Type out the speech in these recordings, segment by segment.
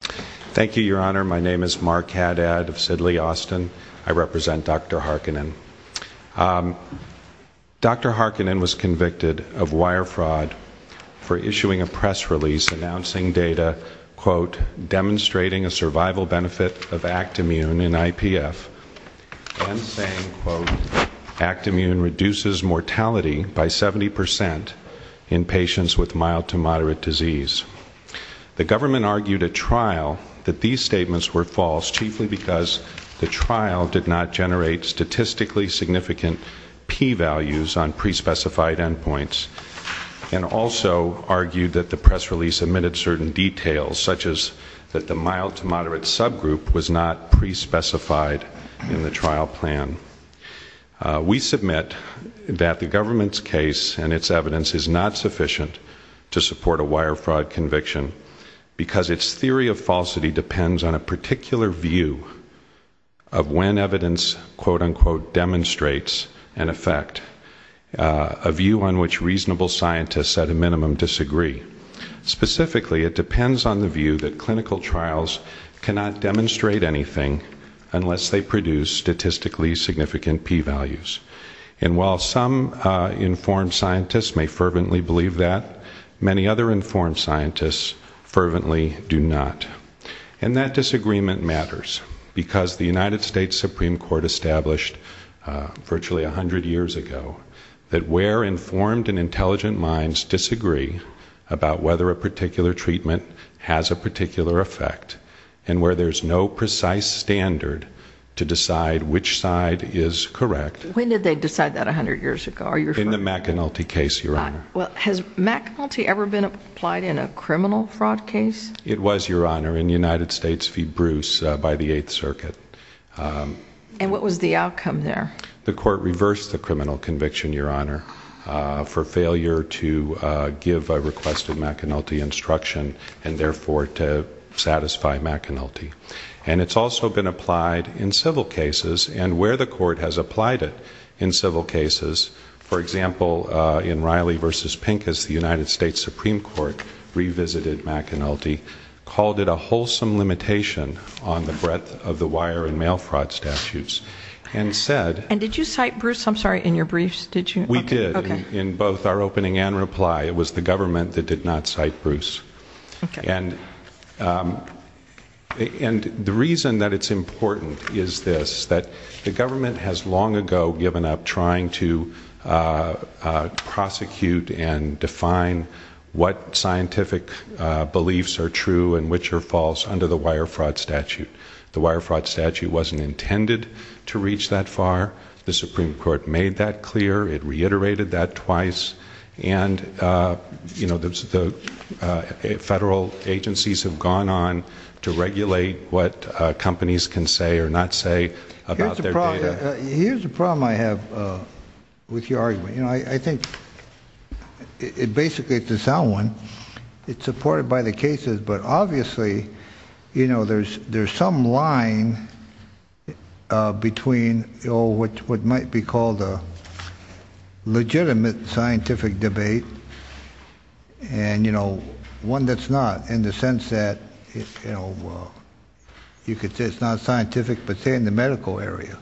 Thank you, your honor. My name is Mark Haddad of Sidley, Austin. I represent Dr. Harkonen. Dr. Harkonen was convicted of wire fraud for issuing a press release announcing data, quote, demonstrating a survival benefit of Actimmune in IPF and saying, quote, Actimmune reduces mortality by 70 percent in patients with mild to moderate disease. The government argued at trial that these statements were false, chiefly because the trial did not generate statistically significant P values on pre-specified endpoints, and also argued that the press release omitted certain details, such as that the mild to moderate subgroup was not pre-specified in the trial plan. We submit that the government's case and its evidence is not sufficient to support the evidence. This theory of falsity depends on a particular view of when evidence, quote, unquote, demonstrates an effect, a view on which reasonable scientists at a minimum disagree. Specifically, it depends on the view that clinical trials cannot demonstrate anything unless they produce statistically significant P values. And while some informed scientists may fervently believe that, many other informed scientists fervently do not. And that disagreement matters because the United States Supreme Court established virtually a hundred years ago that where informed and intelligent minds disagree about whether a particular treatment has a particular effect and where there's no precise standard to decide which side is has a particular effect or not. And that's what we're trying to do here. In the McAnulty case, Your Honor. Well, has McAnulty ever been applied in a criminal fraud case? It was, Your Honor, in United States v. Bruce by the Eighth Circuit. And what was the outcome there? The court reversed the criminal conviction, Your Honor, for failure to give a requested McAnulty instruction, and therefore to satisfy McAnulty. And it's also been applied in civil cases, and where the court has applied it in civil cases, for example, in Riley v. Pincus, the United States Supreme Court, revisited McAnulty, called it a wholesome limitation on the breadth of the wire and mail fraud statutes, and said... And did you cite Bruce? I'm sorry, in your briefs, did you? We did. In both our opening and reply, it was the government that did not cite Bruce. Okay. And the reason that it's important is this, that the government has long ago given up trying to prosecute and define what scientific beliefs are true and which are false under the wire fraud statute. The wire fraud statute wasn't intended to reach that far. The Supreme Court made that clear. It reiterated that twice. And, you know, the federal agencies have gone on to regulate what companies can say or not say about their data. Here's the problem I have with your argument. You know, I think it basically, it's a sound one. It's supported by the cases, but obviously, you know, there's some line between what might be called a legitimate scientific debate and, you know, one that's not, in the sense that, you know, you could say it's not scientific, but say in the medical area.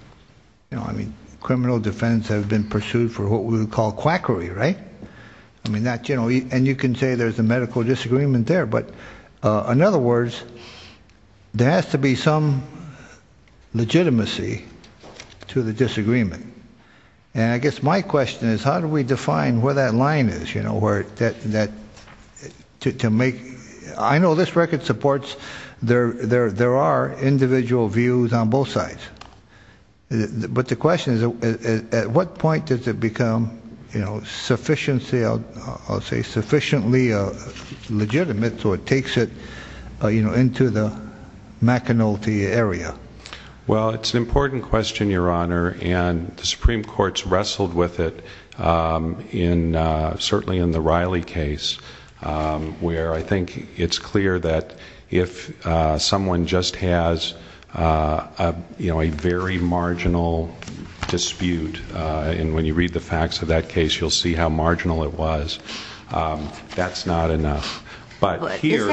You know, I mean, criminal defense has been pursued for what we would call quackery, right? I mean, that, you know, and you can say there's a medical disagreement there, but in other words, there is a scientific disagreement. And I guess my question is, how do we define where that line is, you know, where that, to make, I know this record supports, there are individual views on both sides. But the question is, at what point does it become, you know, sufficiently, I'll say sufficiently legitimate so it takes it, you know, into the McAnulty area? Well, it's an important question, Your Honor, and the Supreme Court's wrestled with it in, certainly in the Riley case, where I think it's clear that if someone just has, you know, a very marginal dispute, and when you read the facts of that case, you'll see how marginal it was. That's not enough. But here...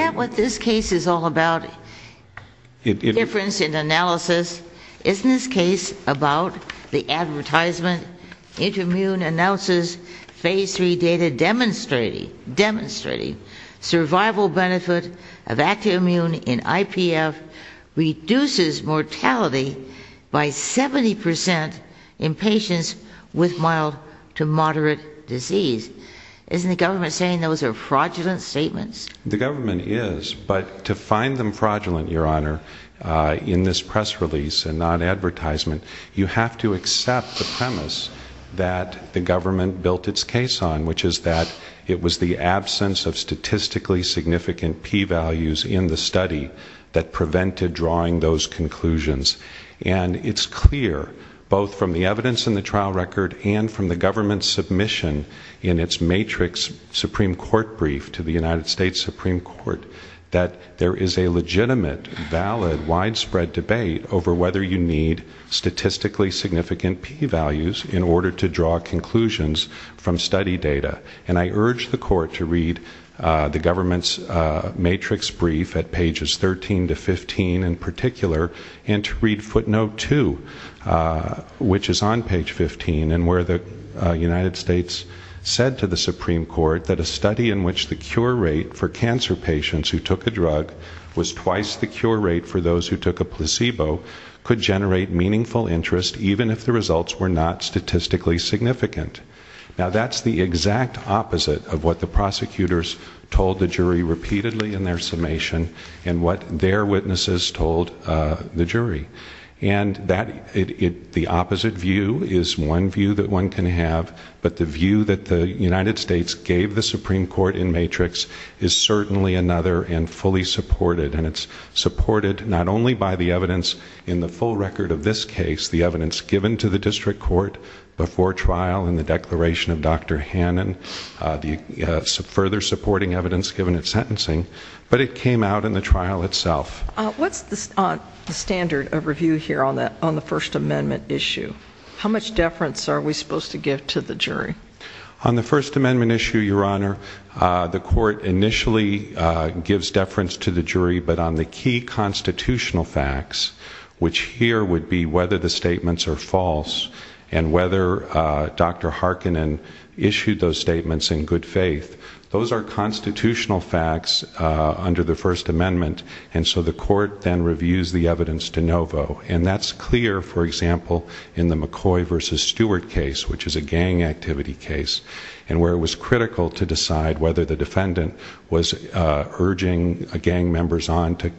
In your analysis, isn't this case about the advertisement, intermune analysis, phase 3 data demonstrating survival benefit of active immune in IPF reduces mortality by 70% in patients with mild to moderate disease. Isn't the government saying those are fraudulent statements? The government is, but to find them fraudulent, Your Honor, in this press release and not advertisement, you have to accept the premise that the government built its case on, which is that it was the absence of statistically significant P values in the study that prevented drawing those conclusions. And it's clear, both from the evidence in the trial record and from the government's submission in its matrix Supreme Court brief to the United States Supreme Court, that there is a legitimate, valid, widespread debate over whether you need statistically significant P values in order to draw conclusions from study data. And I urge the court to read the government's matrix brief at pages 13 to 15 in particular and to read footnote 2, which is on page 15 and where the United States said to the Supreme Court that a study in which the cure rate for cancer patients who took a drug was twice the cure rate for those who took a placebo could generate meaningful interest even if the results were not statistically significant. Now that's the exact opposite of what the jury. And the opposite view is one view that one can have, but the view that the United States gave the Supreme Court in matrix is certainly another and fully supported. And it's supported not only by the evidence in the full record of this case, the evidence given to the district court before trial in the declaration of Dr. Hannon, the further supporting evidence given at sentencing, but it came out in the trial itself. What's the standard of review here on the First Amendment issue? How much deference are we supposed to give to the jury? On the First Amendment issue, Your Honor, the court initially gives deference to the jury, but on the key constitutional facts, which here would be whether the statements are false and whether Dr. Harkinen issued those statements in good faith, those are the things that the court then reviews the evidence de novo. And that's clear, for example, in the McCoy versus Stewart case, which is a gang activity case, and where it was critical to decide whether the defendant was urging gang members on to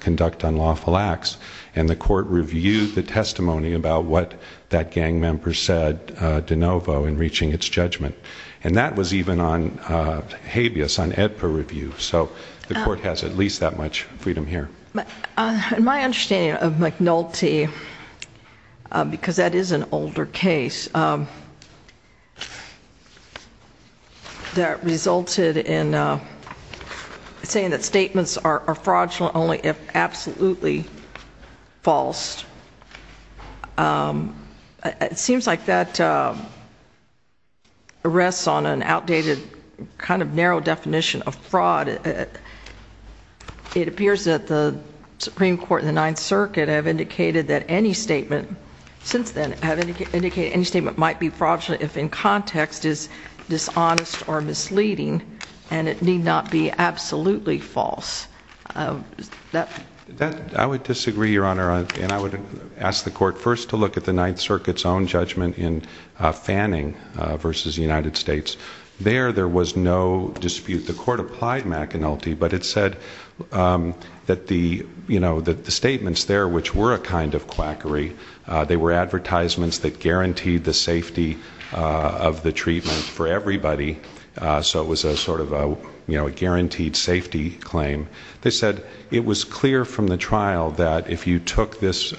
conduct unlawful acts. And the court reviewed the testimony about what that gang member said de novo in reaching its judgment. And that was even on habeas, on EDPA review. So the court has at least that much freedom here. My understanding of McNulty, because that is an older case, that resulted in saying that statements are fraudulent only if absolutely false. It seems like that rests on an outdated kind of narrow definition of fraud. It appears that the Supreme Court and the Ninth Circuit have indicated that any statement, since then, have indicated any statement might be fraudulent if in context is dishonest or misleading, and it need not be absolutely false. I would disagree, Your Honor, and I would ask the court first to look at the Ninth Circuit's own judgment in Fanning versus the United States. There, there was no dispute. The court applied McNulty, but it said that the statements there, which were a kind of quackery, they were advertisements that guaranteed the safety of the treatment for everybody, so it was a sort of a guaranteed safety claim. They said it was clear from the trial that if you took this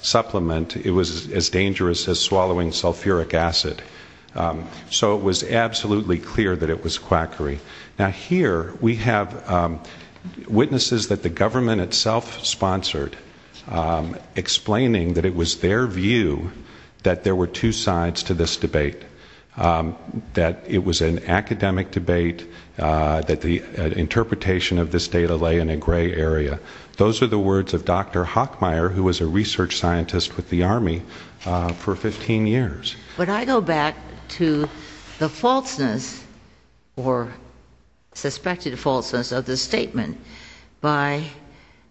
supplement, it was as dangerous as swallowing sulfuric acid. So it was absolutely clear that it was quackery. Now here we have witnesses that the government itself sponsored explaining that it was their view that there were two sides to this debate, that it was an academic debate, that the interpretation of this data lay in a gray area. Those are the words of Dr. Hockmeyer, who was a research scientist with the Army for 15 years. When I go back to the falseness or suspected falseness of the statement by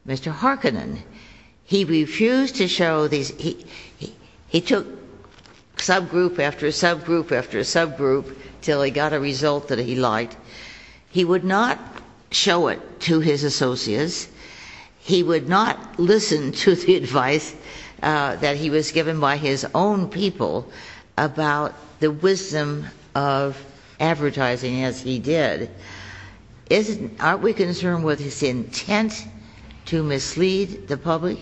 Mr. Harkonnen, he refused to show these, he took subgroup after subgroup after subgroup until he got a result that he liked. He would not show it to his associates. He would not listen to the advice that he was given by his own people about the wisdom of advertising as he did. Aren't we concerned with his intent to mislead the public?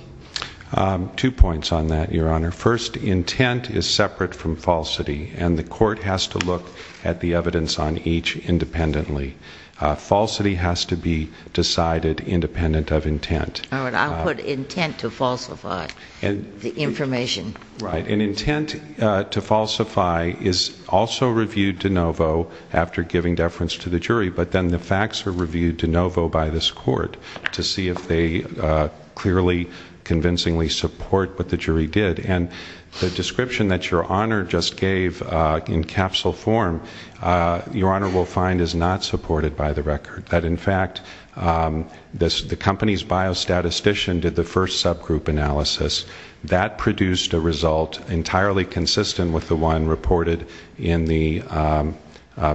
Two points on that, Your Honor. First, intent is separate from falsity, and the court has to look at the evidence on each independently. Falsity has to be decided independent of intent. I'll put intent to falsify the information. Right, and intent to falsify is also reviewed de novo after giving deference to the jury, but then the facts are reviewed de novo by this court to see if they clearly, convincingly support what the jury did, and the description that Your Honor just gave in capsule form, Your Honor will find is not supported by the record, that in fact, the company's biostatistician did the first subgroup analysis. That produced a result entirely consistent with the one reported in the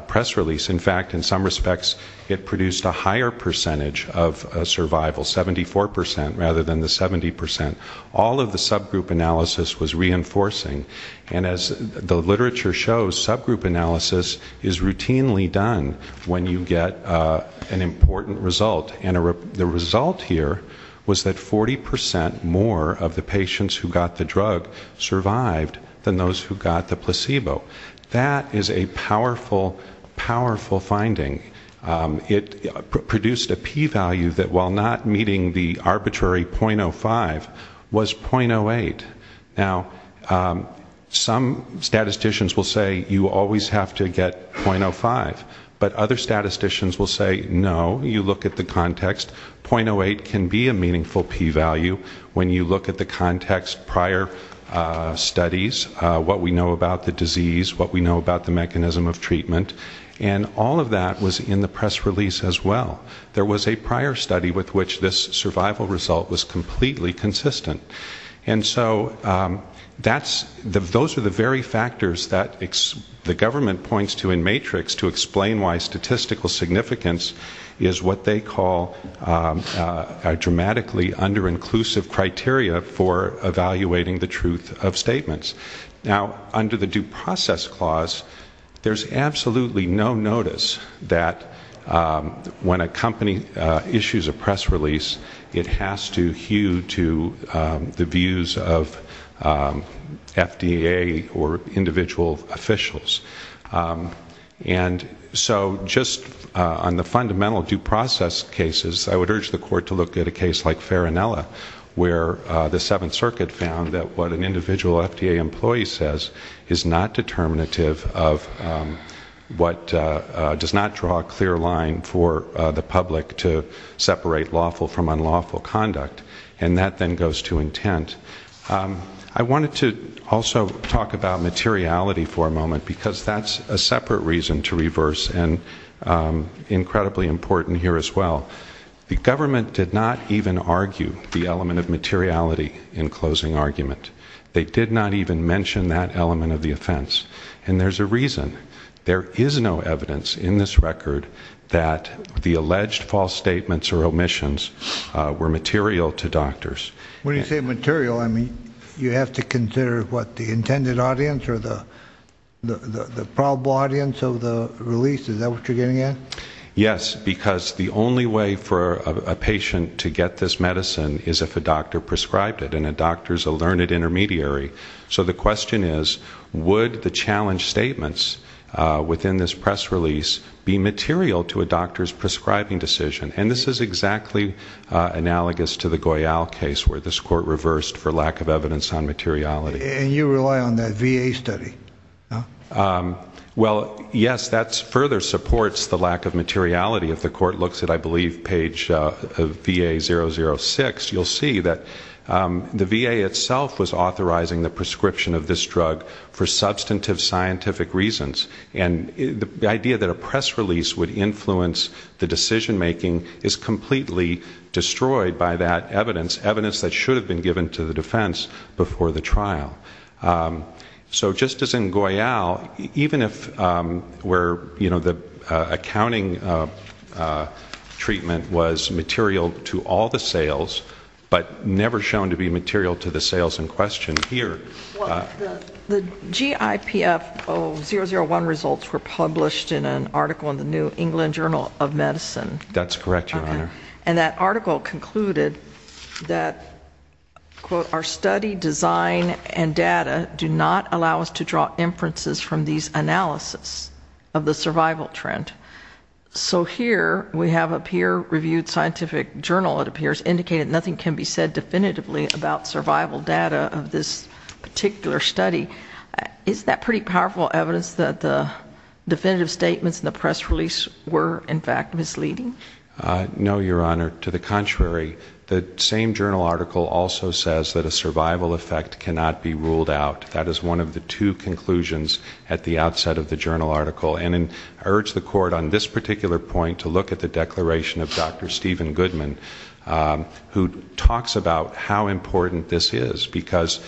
press release. In fact, in some respects, it produced a higher percentage of survival, 74% rather than the 70%. All of the subgroup analysis was reinforcing, and as the literature shows, subgroup analysis is routinely done when you get an important result, and the result here was that 40% more of the patients who got the drug survived than those who got the placebo. That is a powerful, powerful finding. It produced a p-value that, while not meeting the arbitrary .05, was .08. Now, some statisticians will say you always have to get .05, but other statisticians will say, no, you look at the context, .08 can be a meaningful p-value when you look at the context, prior studies, what we know about the disease, what we know about the mechanism of treatment, and all of that was in the press release as well. There was a prior study with which this survival result was completely consistent. And so, those are the very factors that the government points to in Matrix to explain why statistical significance is what they call a dramatically under-inclusive criteria for evaluating the truth of statements. Now, under the Due Process Clause, there's absolutely no notice that when a company issues a press release, it has to hew to the views of FDA or individual officials. And so, just on the fundamental due process cases, I would urge the court to look at a case like Farinella, where the Seventh Circuit found that what an individual FDA employee says is not determinative of what does not draw a clear line for the public to separate lawful from unlawful conduct, and that then goes to intent. I wanted to also talk about materiality for a moment, because that's a separate reason to reverse, and incredibly important here as well. The government did not even argue the element of materiality in closing argument. They did not even mention that element of the offense. And there's a reason. There is no evidence in this record that the alleged false statements or omissions were material to doctors. When you say material, I mean, you have to consider what, the intended audience or the probable audience of the release? Is that what you're getting at? Yes, because the only way for a patient to get this medicine is if a doctor prescribed it, and a doctor is a learned intermediary. So the question is, would the challenged statements within this press release be material to a doctor's prescribing decision? And this is exactly analogous to the Goyal case, where this court reversed for lack of evidence on materiality. And you rely on that VA study, no? Well, yes, that further supports the lack of materiality. If the court looks at, I believe, page VA006, you'll see that the VA itself was authorizing the prescription of this drug for substantive scientific reasons. And the idea that a press release would influence the decision making is completely destroyed by that evidence, evidence that should have been given to the defense before the trial. So, just as in Goyal, even if where, you know, the accounting treatment was material to all the sales, but never shown to be material to the sales in question, here. Well, the GIPF001 results were published in an article in the New England Journal of Medicine. That's correct, Your Honor. And that article concluded that, quote, our study, design, and data do not allow us to draw inferences from these analysis of the survival trend. So here, we have a peer-reviewed scientific journal, it appears, indicated nothing can be said definitively about survival data of this particular study. Is that pretty powerful evidence that the definitive statements in the press release were, in fact, misleading? No, Your Honor. To the contrary. The same journal article also says that a survival effect cannot be ruled out. That is one of the two conclusions at the outset of the journal article. And I urge the Court on this particular point to look at the declaration of Dr. Stephen Goodman, who talks about how important this is. Because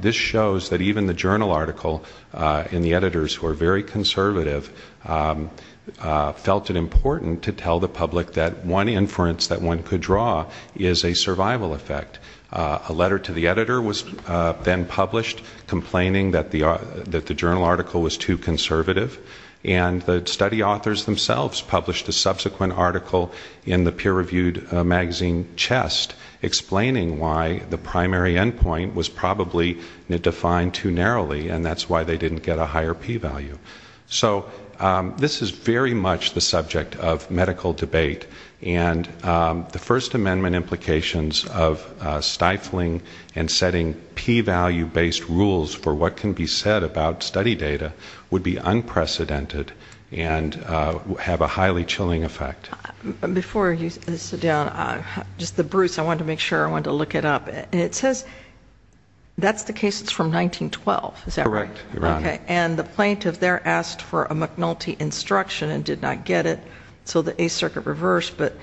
this shows that even the journal article, and the editors who are very conservative, felt it important to tell the public that one inference that one could draw is a survival effect. A letter to the editor was then published complaining that the journal article was too conservative. And the study authors themselves published a subsequent article in the peer-reviewed magazine, Chest, explaining why the primary endpoint was probably defined too narrowly, and that's why they didn't get a higher p-value. So this is very much the subject of medical debate, and the First Amendment implications of stifling and setting p-value-based rules for what can be said about study data would be unprecedented and have a highly chilling effect. Before you sit down, just the Bruce, I wanted to make sure, I wanted to look it up. It says that's the case that's from 1912, is that right? Correct, Your Honor. And the plaintiff there asked for a McNulty instruction and did not get it, so the Eighth Circuit reversed. But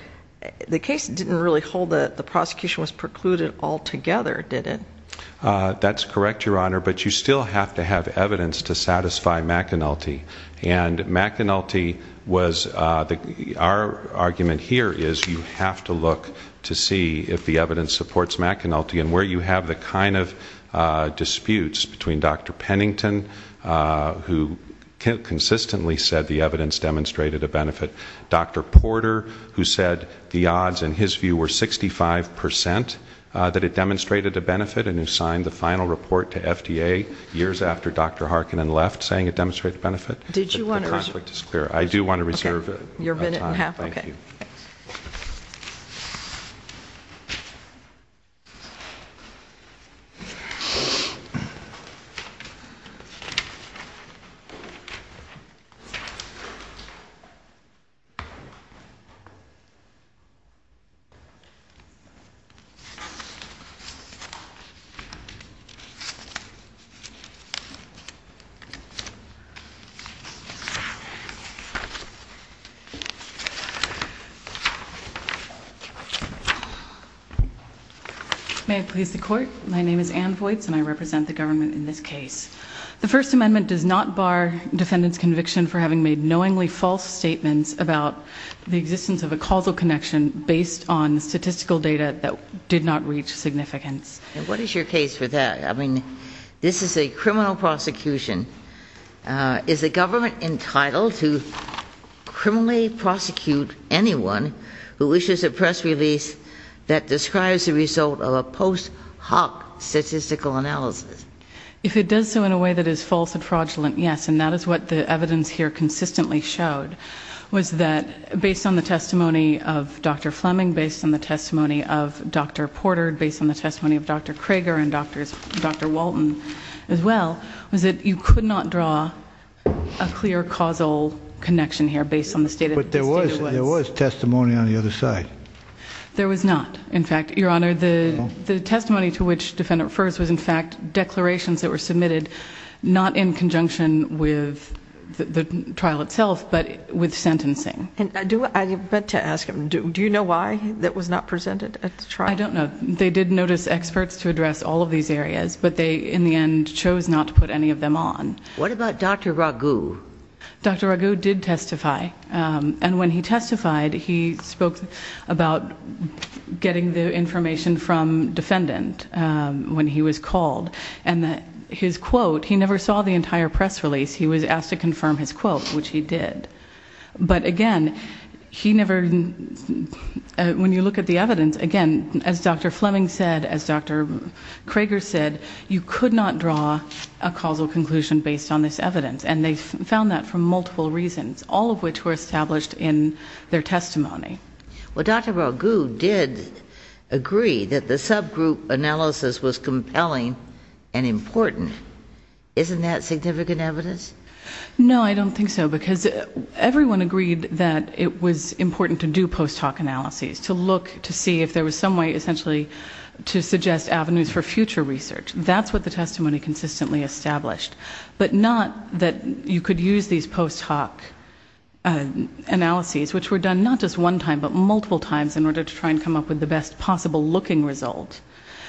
the case didn't really hold that the prosecution was precluded altogether, did it? That's correct, Your Honor, but you still have to have evidence to satisfy McNulty. And McNulty was, our argument here is you have to look to see if the evidence supports McNulty and where you have the kind of disputes between Dr. Pennington, who consistently said the evidence demonstrated a benefit, Dr. Porter, who said the odds, in his view, were 65% that it demonstrated a benefit, and who signed the final report to FDA years after Dr. Harkinen left saying it demonstrated a benefit. Did you want to reserve? The conflict is clear. I do want to reserve your time. Okay, your minute and a half, okay. May I please the court? My name is Ann Voights and I represent the government in this case. The First Amendment does not bar defendant's conviction for having made knowingly false statements about the existence of a causal connection based on statistical data that did not reach significance. What is your case for that? I mean, this is a criminal prosecution. Is the government entitled to criminally prosecute anyone who issues a press release that describes the result of a post hoc statistical analysis? If it does so in a way that is false and fraudulent, yes, and that is what the evidence here consistently showed was that based on the testimony of Dr. Fleming, based on the testimony of Dr. Krager and Dr. Walton as well, was that you could not draw a clear causal connection here based on the stated evidence. But there was testimony on the other side. There was not. In fact, your Honor, the testimony to which the defendant refers was in fact declarations that were submitted not in conjunction with the trial itself, but with sentencing. I do want to ask him, do you know why that was not presented at the trial? I don't know. They did notice experts to address all of these areas, but they in the end chose not to put any of them on. What about Dr. Raghu? Dr. Raghu did testify. And when he testified, he spoke about getting the information from defendant when he was called. And his quote, he never saw the entire press release. He was asked to confirm his quote, which he did. But again, he never, when you look at the evidence, as Dr. Fleming said, as Dr. Krager said, you could not draw a causal conclusion based on this evidence. And they found that for multiple reasons, all of which were established in their testimony. Well, Dr. Raghu did agree that the subgroup analysis was compelling and important. Isn't that significant evidence? No, I don't think so, because everyone agreed that it was important to do post hoc analyses, to look to see if there was some way essentially to suggest avenues for future research. That's what the testimony consistently established, but not that you could use these post hoc analyses, which were done not just one time, but multiple times in order to try and come up with the best possible looking result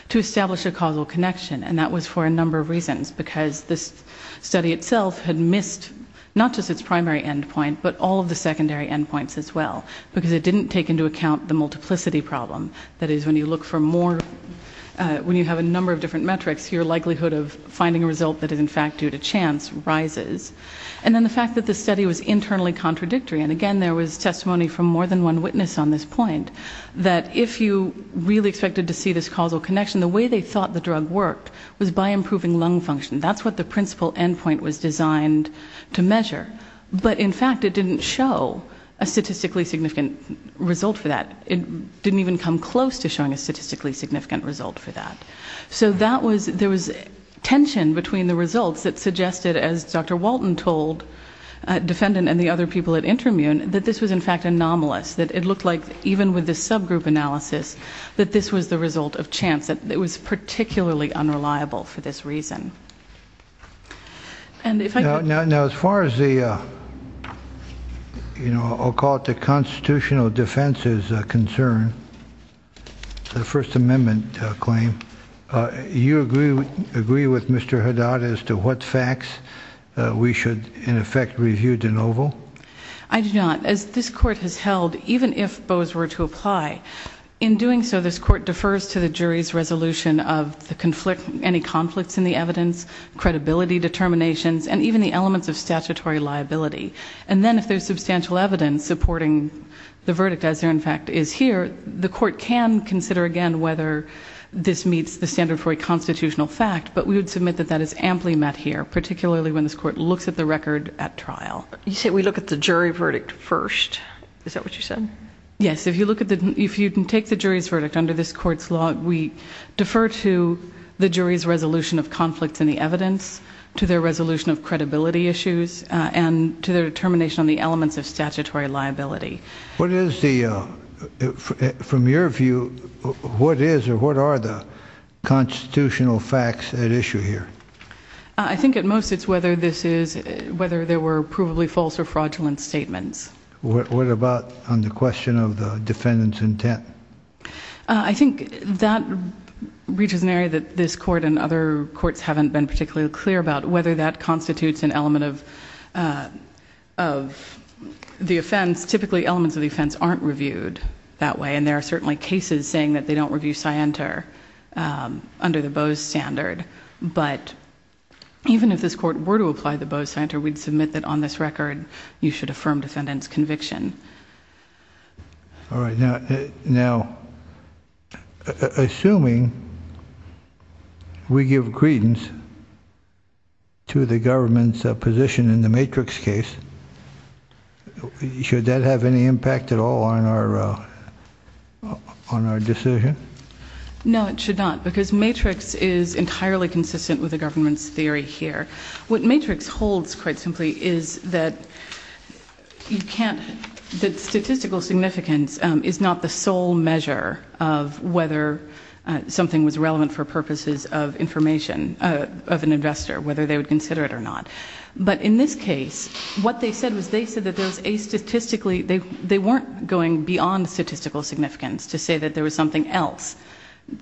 to establish a causal connection. And that was for a number of reasons, because this study itself had missed not just its primary endpoint, but all of the secondary endpoints as well, because it didn't take into account the multiplicity problem. That is, when you look for more, when you have a number of different metrics, your likelihood of finding a result that is in fact due to chance rises. And then the fact that the study was internally contradictory, and again there was testimony from more than one witness on this point, that if you really expected to see this causal connection, the way they thought the drug worked was by improving lung function. That's what the principal endpoint was designed to measure. But in fact it didn't show a statistically significant result for that. It didn't even come close to showing a statistically significant result for that. So there was tension between the results that suggested, as Dr. Walton told defendant and the other people at Intermune, that this was in fact anomalous, that it looked like even with the subgroup analysis, that this was the result of chance, that it was particularly unreliable for this reason. Now as far as the, I'll call it the constitutional defense's concern, the First Amendment claim, you agree with Mr. Haddad as to what facts we should in effect review de novo? I do not. As this Court has held, even if Bose were to apply, in doing so this Court defers to the jury's resolution of any conflicts in the evidence, credibility determinations, and even the elements of statutory liability. And then if there's substantial evidence supporting the verdict as there in fact is here, the Court can consider again whether this meets the standard for a constitutional fact, but we would submit that that is amply met here, particularly when this Court looks at the record at trial. You say we look at the jury verdict first. Is that what you said? Yes. If you look at the, if you can take the jury's verdict under this Court's law, we defer to the jury's resolution of conflicts in the evidence, to their resolution of credibility issues, and to their determination on the elements of statutory liability. What is the, from your view, what is or what are the constitutional facts at issue here? I think at most it's whether this is, whether there were provably false or fraudulent statements. What about on the question of the defendant's intent? I think that reaches an area that this Court and other courts haven't been particularly clear about, whether that constitutes an element of the offense. Typically elements of the offense aren't reviewed that way, and there are certainly cases saying that they don't review scienter under the Bose standard, but even if this Court were to apply the Bose standard, we'd submit that on this record, you should affirm defendant's conviction. All right. Now, assuming we give credence to the government's position in the Matrix case, should that have any impact at all on our, on our decision? No, it should not, because Matrix is entirely consistent with the government's theory here. What Matrix holds, quite simply, is that you can't, that statistical significance is not the sole measure of whether something was relevant for purposes of information of an investor, whether they would consider it or not. But in this case, what they said was they said that there was a statistically, they, they weren't going beyond statistical significance to say that there was something else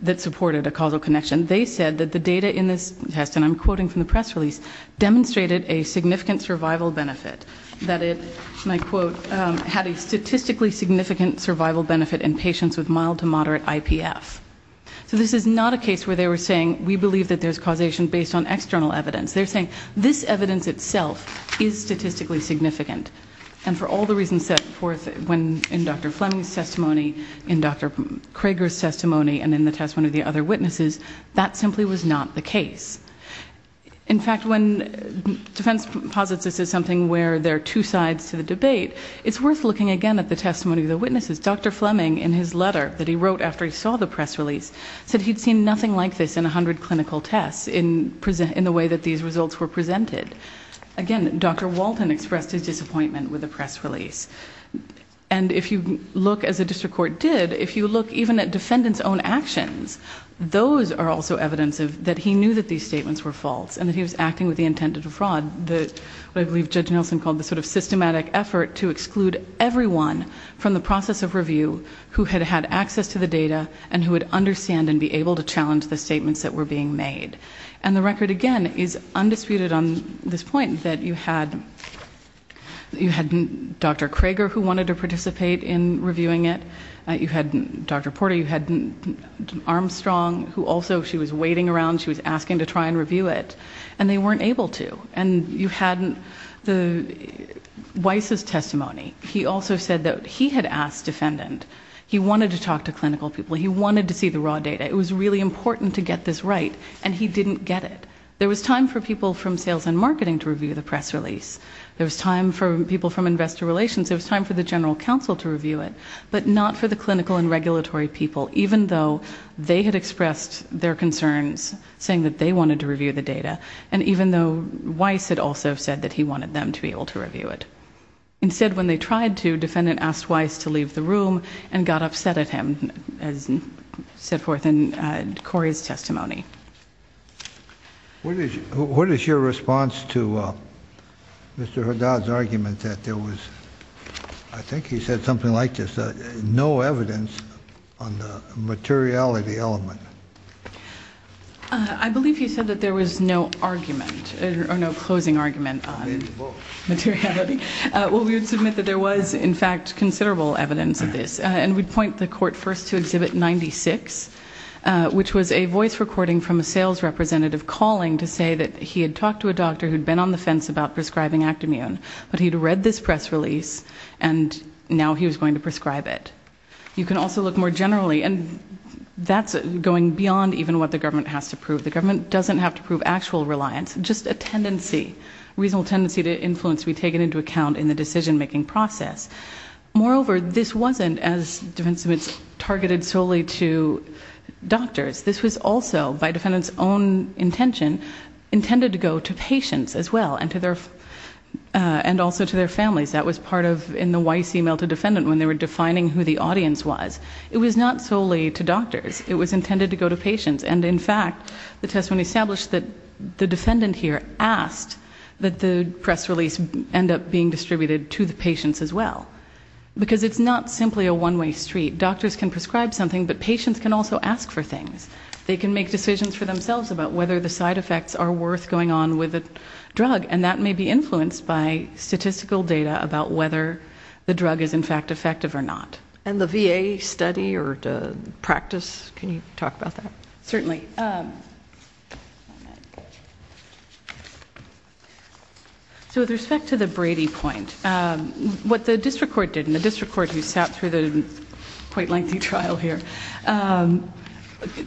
that supported a causal connection. They said that the data in this test, and I'm quoting from the press release, demonstrated a significant survival benefit. That it, and I quote, had a statistically significant survival benefit in patients with mild to moderate IPF. So this is not a case where they were saying, we believe that there's causation based on external evidence. They're saying, this evidence itself is statistically significant. And for all the reasons set forth when, in Dr. Fleming's testimony, in Dr. Prager's testimony, and in the testimony of the other witnesses, that simply was not the case. In fact, when defense posits this as something where there are two sides to the debate, it's worth looking again at the testimony of the witnesses. Dr. Fleming, in his letter that he wrote after he saw the press release, said he'd seen nothing like this in 100 clinical tests in present, in the way that these results were presented. Again, Dr. Walton expressed his disappointment with the press release. And if you look, as a district court did, if you look even at defendant's own actions. Those are also evidence that he knew that these statements were false, and that he was acting with the intent to defraud the, what I believe Judge Nielsen called the sort of systematic effort to exclude everyone from the process of review. Who had had access to the data, and who would understand and be able to challenge the statements that were being made. And the record, again, is undisputed on this point, that you had, you had Dr. Crager who wanted to participate in reviewing it. You had Dr. Porter, you had Armstrong, who also, she was waiting around, she was asking to try and review it. And they weren't able to. And you had Weiss' testimony. He also said that he had asked defendant, he wanted to talk to clinical people, he wanted to see the raw data. It was really important to get this right, and he didn't get it. There was time for people from sales and marketing to review the press release. There was time for people from investor relations, there was time for the general counsel to review it. But not for the clinical and regulatory people, even though they had expressed their concerns, saying that they wanted to review the data. And even though Weiss had also said that he wanted them to be able to review it. Instead, when they tried to, defendant asked Weiss to leave the room and got upset at him, as set forth in Corey's testimony. What is your response to Mr. Haddad's argument that there was, I think he said something like this, no evidence on the materiality element? I believe he said that there was no argument, or no closing argument on materiality. Well, we would submit that there was, in fact, considerable evidence of this. And we'd point the court first to Exhibit 96, which was a voice recording from a sales representative calling to say that he had talked to a doctor who'd been on the fence about prescribing Actimmune. But he'd read this press release, and now he was going to prescribe it. You can also look more generally, and that's going beyond even what the government has to prove. The government doesn't have to prove actual reliance, just a tendency, reasonable tendency to influence to be taken into account in the decision making process. Moreover, this wasn't, as defense submitted, targeted solely to doctors. This was also, by defendant's own intention, intended to go to patients as well, and also to their families. That was part of, in the wise email to defendant, when they were defining who the audience was. It was not solely to doctors. It was intended to go to patients. And in fact, the testimony established that the defendant here asked that the press release end up being distributed to the patients as well. Because it's not simply a one way street. Doctors can prescribe something, but patients can also ask for things. They can make decisions for themselves about whether the side effects are worth going on with a drug. And that may be influenced by statistical data about whether the drug is, in fact, effective or not. And the VA study or practice, can you talk about that? Certainly. So with respect to the Brady point, what the district court did, and the district court who sat through the quite lengthy trial here,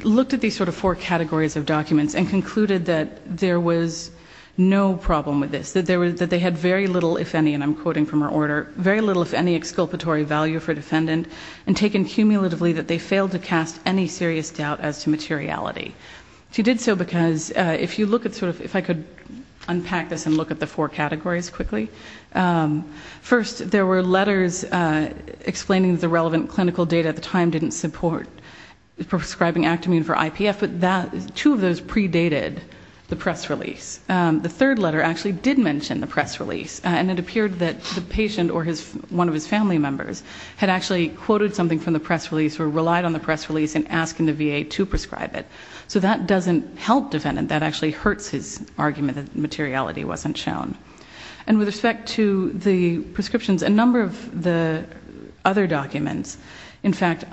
looked at these sort of four categories of documents and concluded that there was no problem with this. That they had very little, if any, and I'm quoting from her order, very little, if any, exculpatory value for defendant. And taken cumulatively, that they failed to cast any serious doubt as to materiality. She did so because, if you look at sort of, if I could unpack this and look at the four categories quickly. First, there were letters explaining the relevant clinical data at the time didn't support prescribing Actamine for IPF. But two of those predated the press release. The third letter actually did mention the press release. And it appeared that the patient or one of his family members had actually quoted something from the press release or relied on the press release in asking the VA to prescribe it. So that doesn't help defendant. That actually hurts his argument that materiality wasn't shown. And with respect to the prescriptions, a number of the other documents, in fact,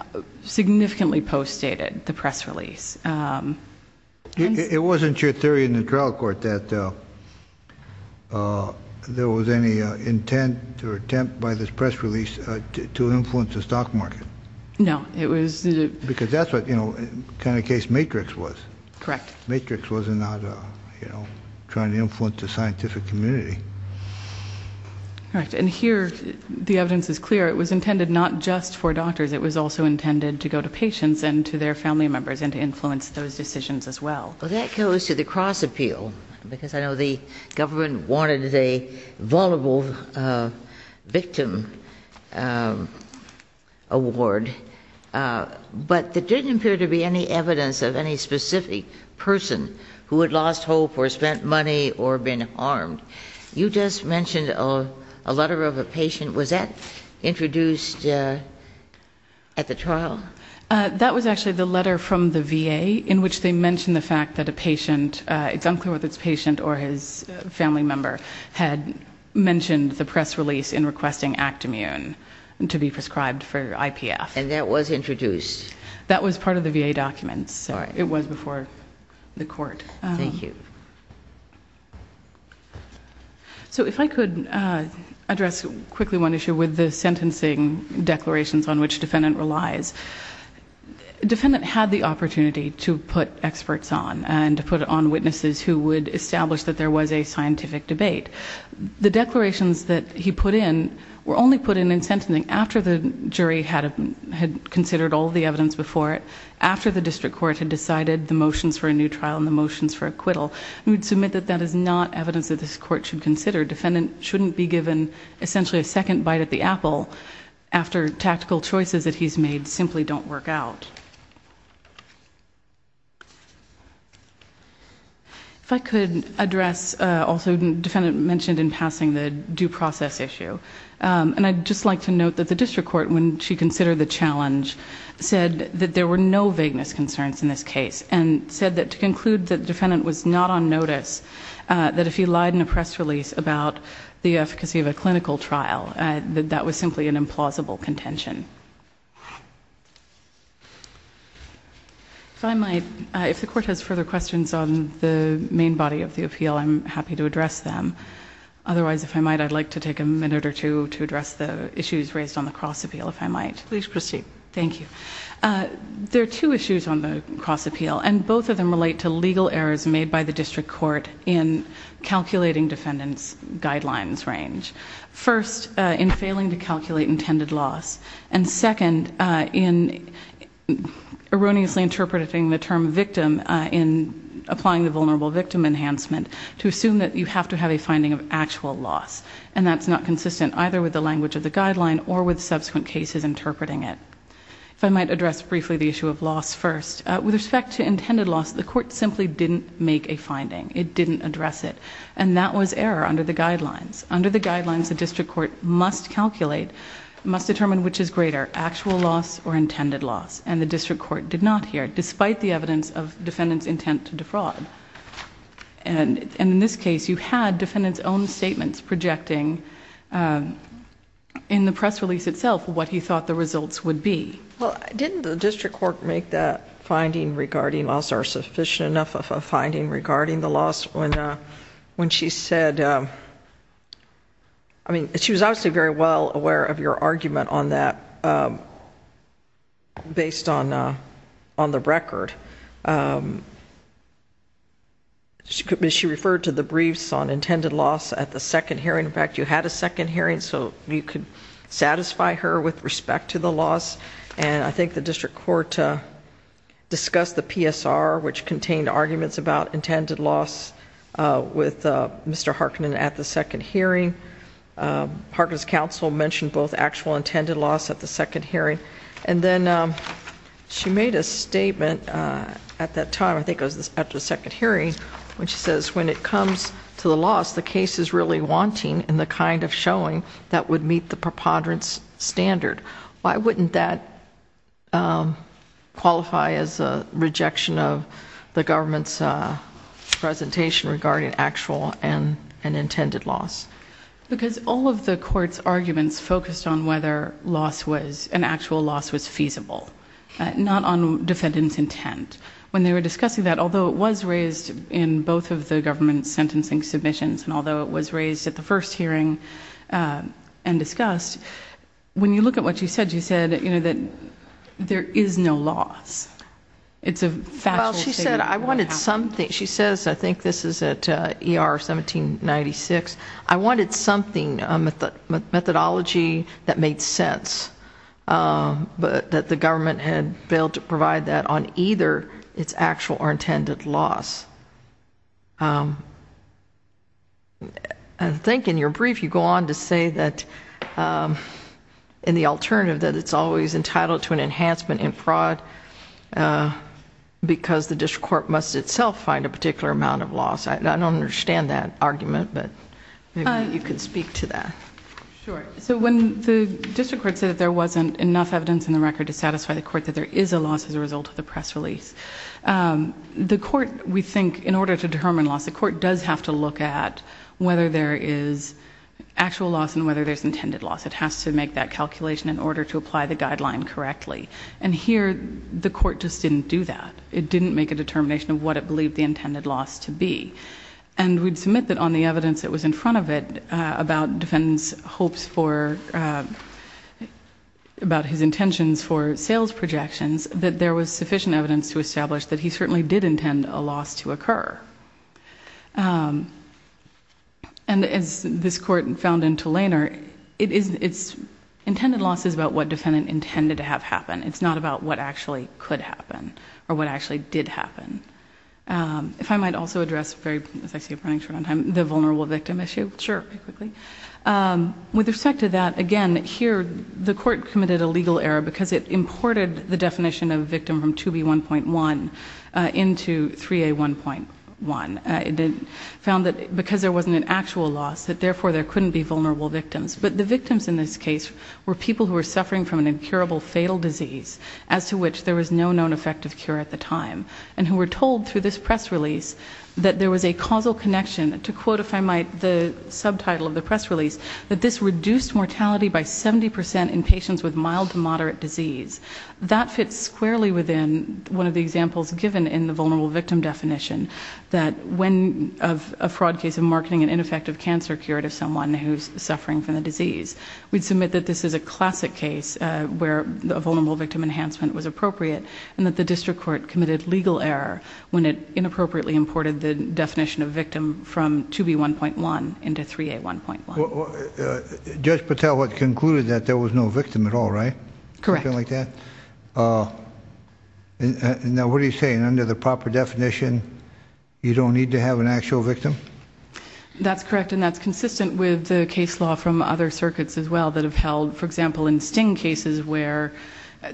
significantly post-stated the press release. It wasn't your theory in the trial court that there was any intent or attempt by this press release to influence the stock market. No, it was- Because that's what kind of case Matrix was. Correct. Matrix wasn't trying to influence the scientific community. Correct. And here, the evidence is clear. It was intended not just for doctors. It was also intended to go to patients and to their family members and to influence those decisions as well. Well, that goes to the cross appeal. Because I know the government wanted a vulnerable victim award. But there didn't appear to be any evidence of any specific person who had lost hope or spent money or been harmed. You just mentioned a letter of a patient. Was that introduced at the trial? That was actually the letter from the VA in which they mentioned the fact that a patient, it's unclear whether it's a patient or his family member, had mentioned the press release in requesting Actimmune to be prescribed for IPF. And that was introduced? That was part of the VA documents. It was before the court. Thank you. So if I could address quickly one issue with the sentencing declarations on which defendant relies. Defendant had the opportunity to put experts on and to put it on witnesses who would establish that there was a scientific debate. The declarations that he put in were only put in in sentencing after the jury had considered all the evidence before it. After the district court had decided the motions for a new trial and the motions for acquittal. We'd submit that that is not evidence that this court should consider. Defendant shouldn't be given essentially a second bite at the apple after tactical choices that he's made simply don't work out. If I could address, also defendant mentioned in passing the due process issue. And I'd just like to note that the district court when she considered the challenge said that there were no vagueness concerns in this case. And said that to conclude that defendant was not on notice. That if he lied in a press release about the efficacy of a clinical trial, that that was simply an implausible contention. If I might, if the court has further questions on the main body of the appeal, I'm happy to address them. Otherwise, if I might, I'd like to take a minute or two to address the issues raised on the cross appeal, if I might. Please proceed. Thank you. There are two issues on the cross appeal, and both of them relate to legal errors made by the district court in calculating defendant's guidelines range. First, in failing to calculate intended loss. And second, in erroneously interpreting the term victim in applying the vulnerable victim enhancement to assume that you have to have a finding of actual loss. And that's not consistent either with the language of the guideline or with subsequent cases interpreting it. If I might address briefly the issue of loss first. With respect to intended loss, the court simply didn't make a finding. It didn't address it. And that was error under the guidelines. Under the guidelines, the district court must calculate, must determine which is greater, actual loss or intended loss. And the district court did not here, despite the evidence of defendant's intent to defraud. And in this case, you had defendant's own statements projecting in the press release itself what he thought the results would be. Well, didn't the district court make that finding regarding loss or sufficient enough of a finding regarding the loss when she said, I mean, she was obviously very well aware of your argument on that based on the record. She referred to the briefs on intended loss at the second hearing. In fact, you had a second hearing so you could satisfy her with respect to the loss. And I think the district court discussed the PSR, which contained arguments about intended loss with Mr. Harkin at the second hearing. Harkin's counsel mentioned both actual and intended loss at the second hearing. And then she made a statement at that time, I think it was at the second hearing, which says, when it comes to the loss, the case is really wanting and the kind of showing that would meet the preponderance standard. Why wouldn't that qualify as a rejection of the government's presentation regarding actual and intended loss? Because all of the court's arguments focused on whether an actual loss was feasible, not on defendant's intent. When they were discussing that, although it was raised in both of the government's sentencing submissions, and although it was raised at the first hearing and discussed, when you look at what she said, she said that there is no loss. It's a factual statement. Well, she said, I wanted something. She says, I think this is at ER 1796, I wanted something, a methodology that made sense. But that the government had failed to provide that on either its actual or intended loss. I think in your brief, you go on to say that in the alternative that it's always entitled to an enhancement in fraud. Because the district court must itself find a particular amount of loss. I don't understand that argument, but maybe you could speak to that. Sure, so when the district court said that there wasn't enough evidence in the record to satisfy the court that there is a loss as a result of the press release. The court, we think, in order to determine loss, the court does have to look at whether there is actual loss and whether there's intended loss. It has to make that calculation in order to apply the guideline correctly. And here, the court just didn't do that. It didn't make a determination of what it believed the intended loss to be. And we'd submit that on the evidence that was in front of it about defendant's hopes for, about his intentions for sales projections, that there was sufficient evidence to establish that he certainly did intend a loss to occur. And as this court found in Tulaner, it's intended loss is about what defendant intended to have happen. It's not about what actually could happen or what actually did happen. If I might also address, as I see it running short on time, the vulnerable victim issue. Sure. Quickly. With respect to that, again, here, the court committed a legal error because it imported the definition of a victim from 2B1.1 into 3A1.1. It found that because there wasn't an actual loss, that therefore there couldn't be vulnerable victims. But the victims in this case were people who were suffering from an incurable fatal disease as to which there was no known effective cure at the time. And who were told through this press release that there was a causal connection, to quote, if I might, the subtitle of the press release. That this reduced mortality by 70% in patients with mild to moderate disease. That fits squarely within one of the examples given in the vulnerable victim definition. That when a fraud case of marketing an ineffective cancer cure to someone who's suffering from the disease. We'd submit that this is a classic case where a vulnerable victim enhancement was appropriate. And that the district court committed legal error when it inappropriately imported the definition of victim from 2B1.1 into 3A1.1. Judge Patel had concluded that there was no victim at all, right? Correct. Something like that? And now what are you saying, under the proper definition, you don't need to have an actual victim? That's correct, and that's consistent with the case law from other circuits as well that have held, for example, in sting cases where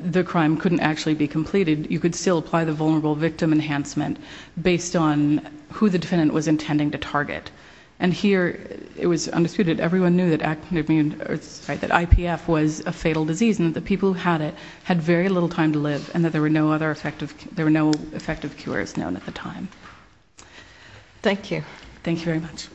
the crime couldn't actually be completed, you could still apply the vulnerable victim enhancement based on who the defendant was intending to target. And here, it was undisputed, everyone knew that IPF was a fatal disease and that the people who had it had very little time to live and that there were no effective cures known at the time. Thank you. Thank you very much.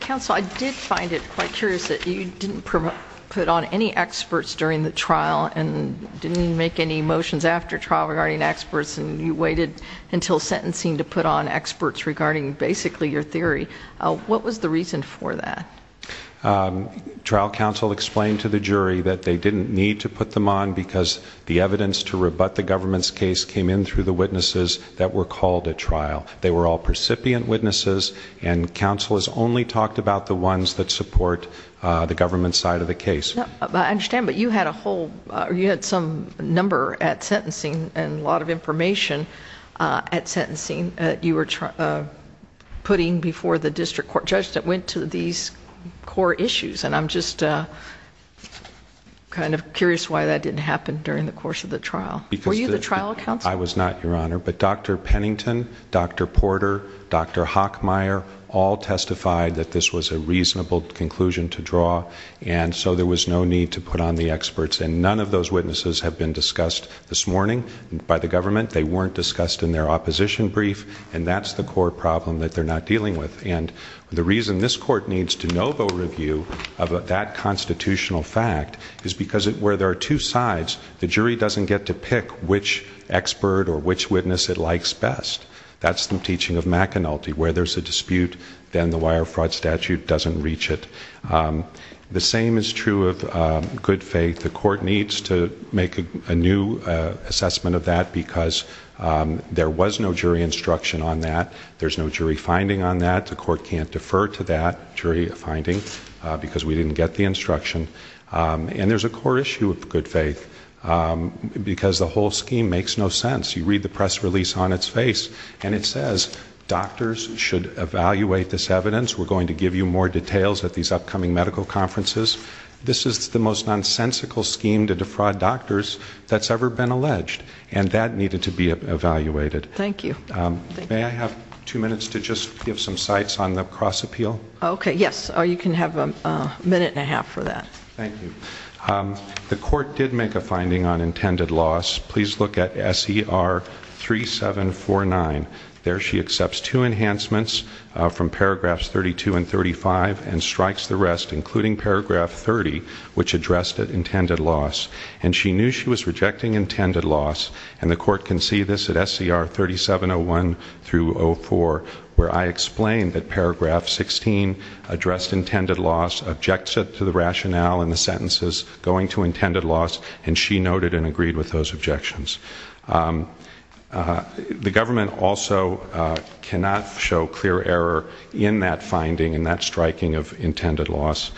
Counsel, I did find it quite curious that you didn't put on any experts during the trial and didn't make any motions after trial regarding experts and you waited until sentencing to put on experts regarding basically your theory. What was the reason for that? Trial counsel explained to the jury that they didn't need to put them on because the evidence to rebut the government's case came in through the witnesses that were called at trial. They were all recipient witnesses, and counsel has only talked about the ones that support the government's side of the case. I understand, but you had a whole, you had some number at sentencing and a lot of information at sentencing that you were putting before the district court judge that went to these core issues. And I'm just kind of curious why that didn't happen during the course of the trial. Were you the trial counsel? I was not, your honor. But Dr. Pennington, Dr. Porter, Dr. Hockmeyer all testified that this was a reasonable conclusion to draw. And so there was no need to put on the experts. And none of those witnesses have been discussed this morning by the government. They weren't discussed in their opposition brief. And that's the core problem that they're not dealing with. And the reason this court needs to no vote review of that constitutional fact is because where there are two sides, the jury doesn't get to pick which expert or which witness it likes best. That's the teaching of McAnulty, where there's a dispute, then the wire fraud statute doesn't reach it. The same is true of good faith. The court needs to make a new assessment of that because there was no jury instruction on that. There's no jury finding on that. The court can't defer to that jury finding because we didn't get the instruction. And there's a core issue of good faith because the whole scheme makes no sense. You read the press release on its face and it says doctors should evaluate this evidence. We're going to give you more details at these upcoming medical conferences. This is the most nonsensical scheme to defraud doctors that's ever been alleged. And that needed to be evaluated. Thank you. May I have two minutes to just give some sites on the cross appeal? Okay, yes, you can have a minute and a half for that. Thank you. The court did make a finding on intended loss. Please look at SER 3749. There she accepts two enhancements from paragraphs 32 and 35, and strikes the rest, including paragraph 30, which addressed intended loss. And she knew she was rejecting intended loss. And the court can see this at SER 3701 through 04, where I explained that paragraph 16 addressed intended loss, objects it to the rationale in the sentences going to intended loss, and she noted and agreed with those objections. The government also cannot show clear error in that finding, in that striking of intended loss,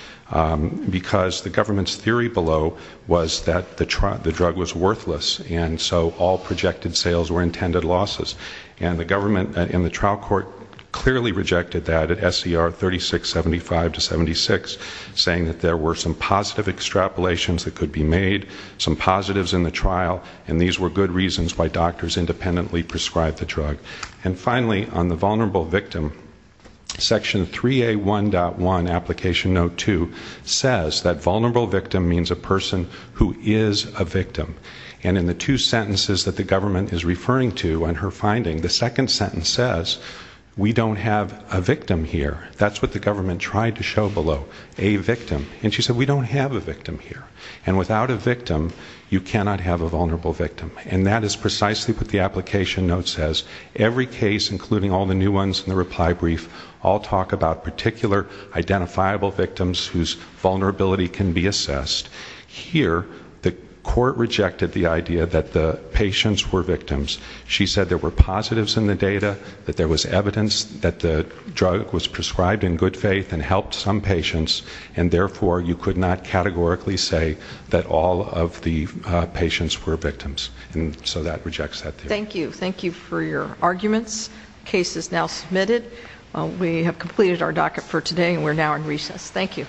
because the government's theory below was that the drug was worthless, and so all projected sales were intended losses. And the government and the trial court clearly rejected that at SER 3675 to 76, saying that there were some positive extrapolations that could be made, some positives in the trial, and these were good reasons why doctors independently prescribed the drug. And finally, on the vulnerable victim, section 3A1.1, application note two, says that vulnerable victim means a person who is a victim. And in the two sentences that the government is referring to in her finding, the second sentence says, we don't have a victim here. That's what the government tried to show below, a victim. And she said, we don't have a victim here. And without a victim, you cannot have a vulnerable victim. And that is precisely what the application note says. Every case, including all the new ones in the reply brief, all talk about particular identifiable victims whose vulnerability can be assessed. Here, the court rejected the idea that the patients were victims. She said there were positives in the data, that there was evidence that the drug was prescribed in good faith and helped some patients. And therefore, you could not categorically say that all of the patients were victims. And so that rejects that theory. Thank you. Thank you for your arguments. Case is now submitted. We have completed our docket for today, and we're now in recess. Thank you.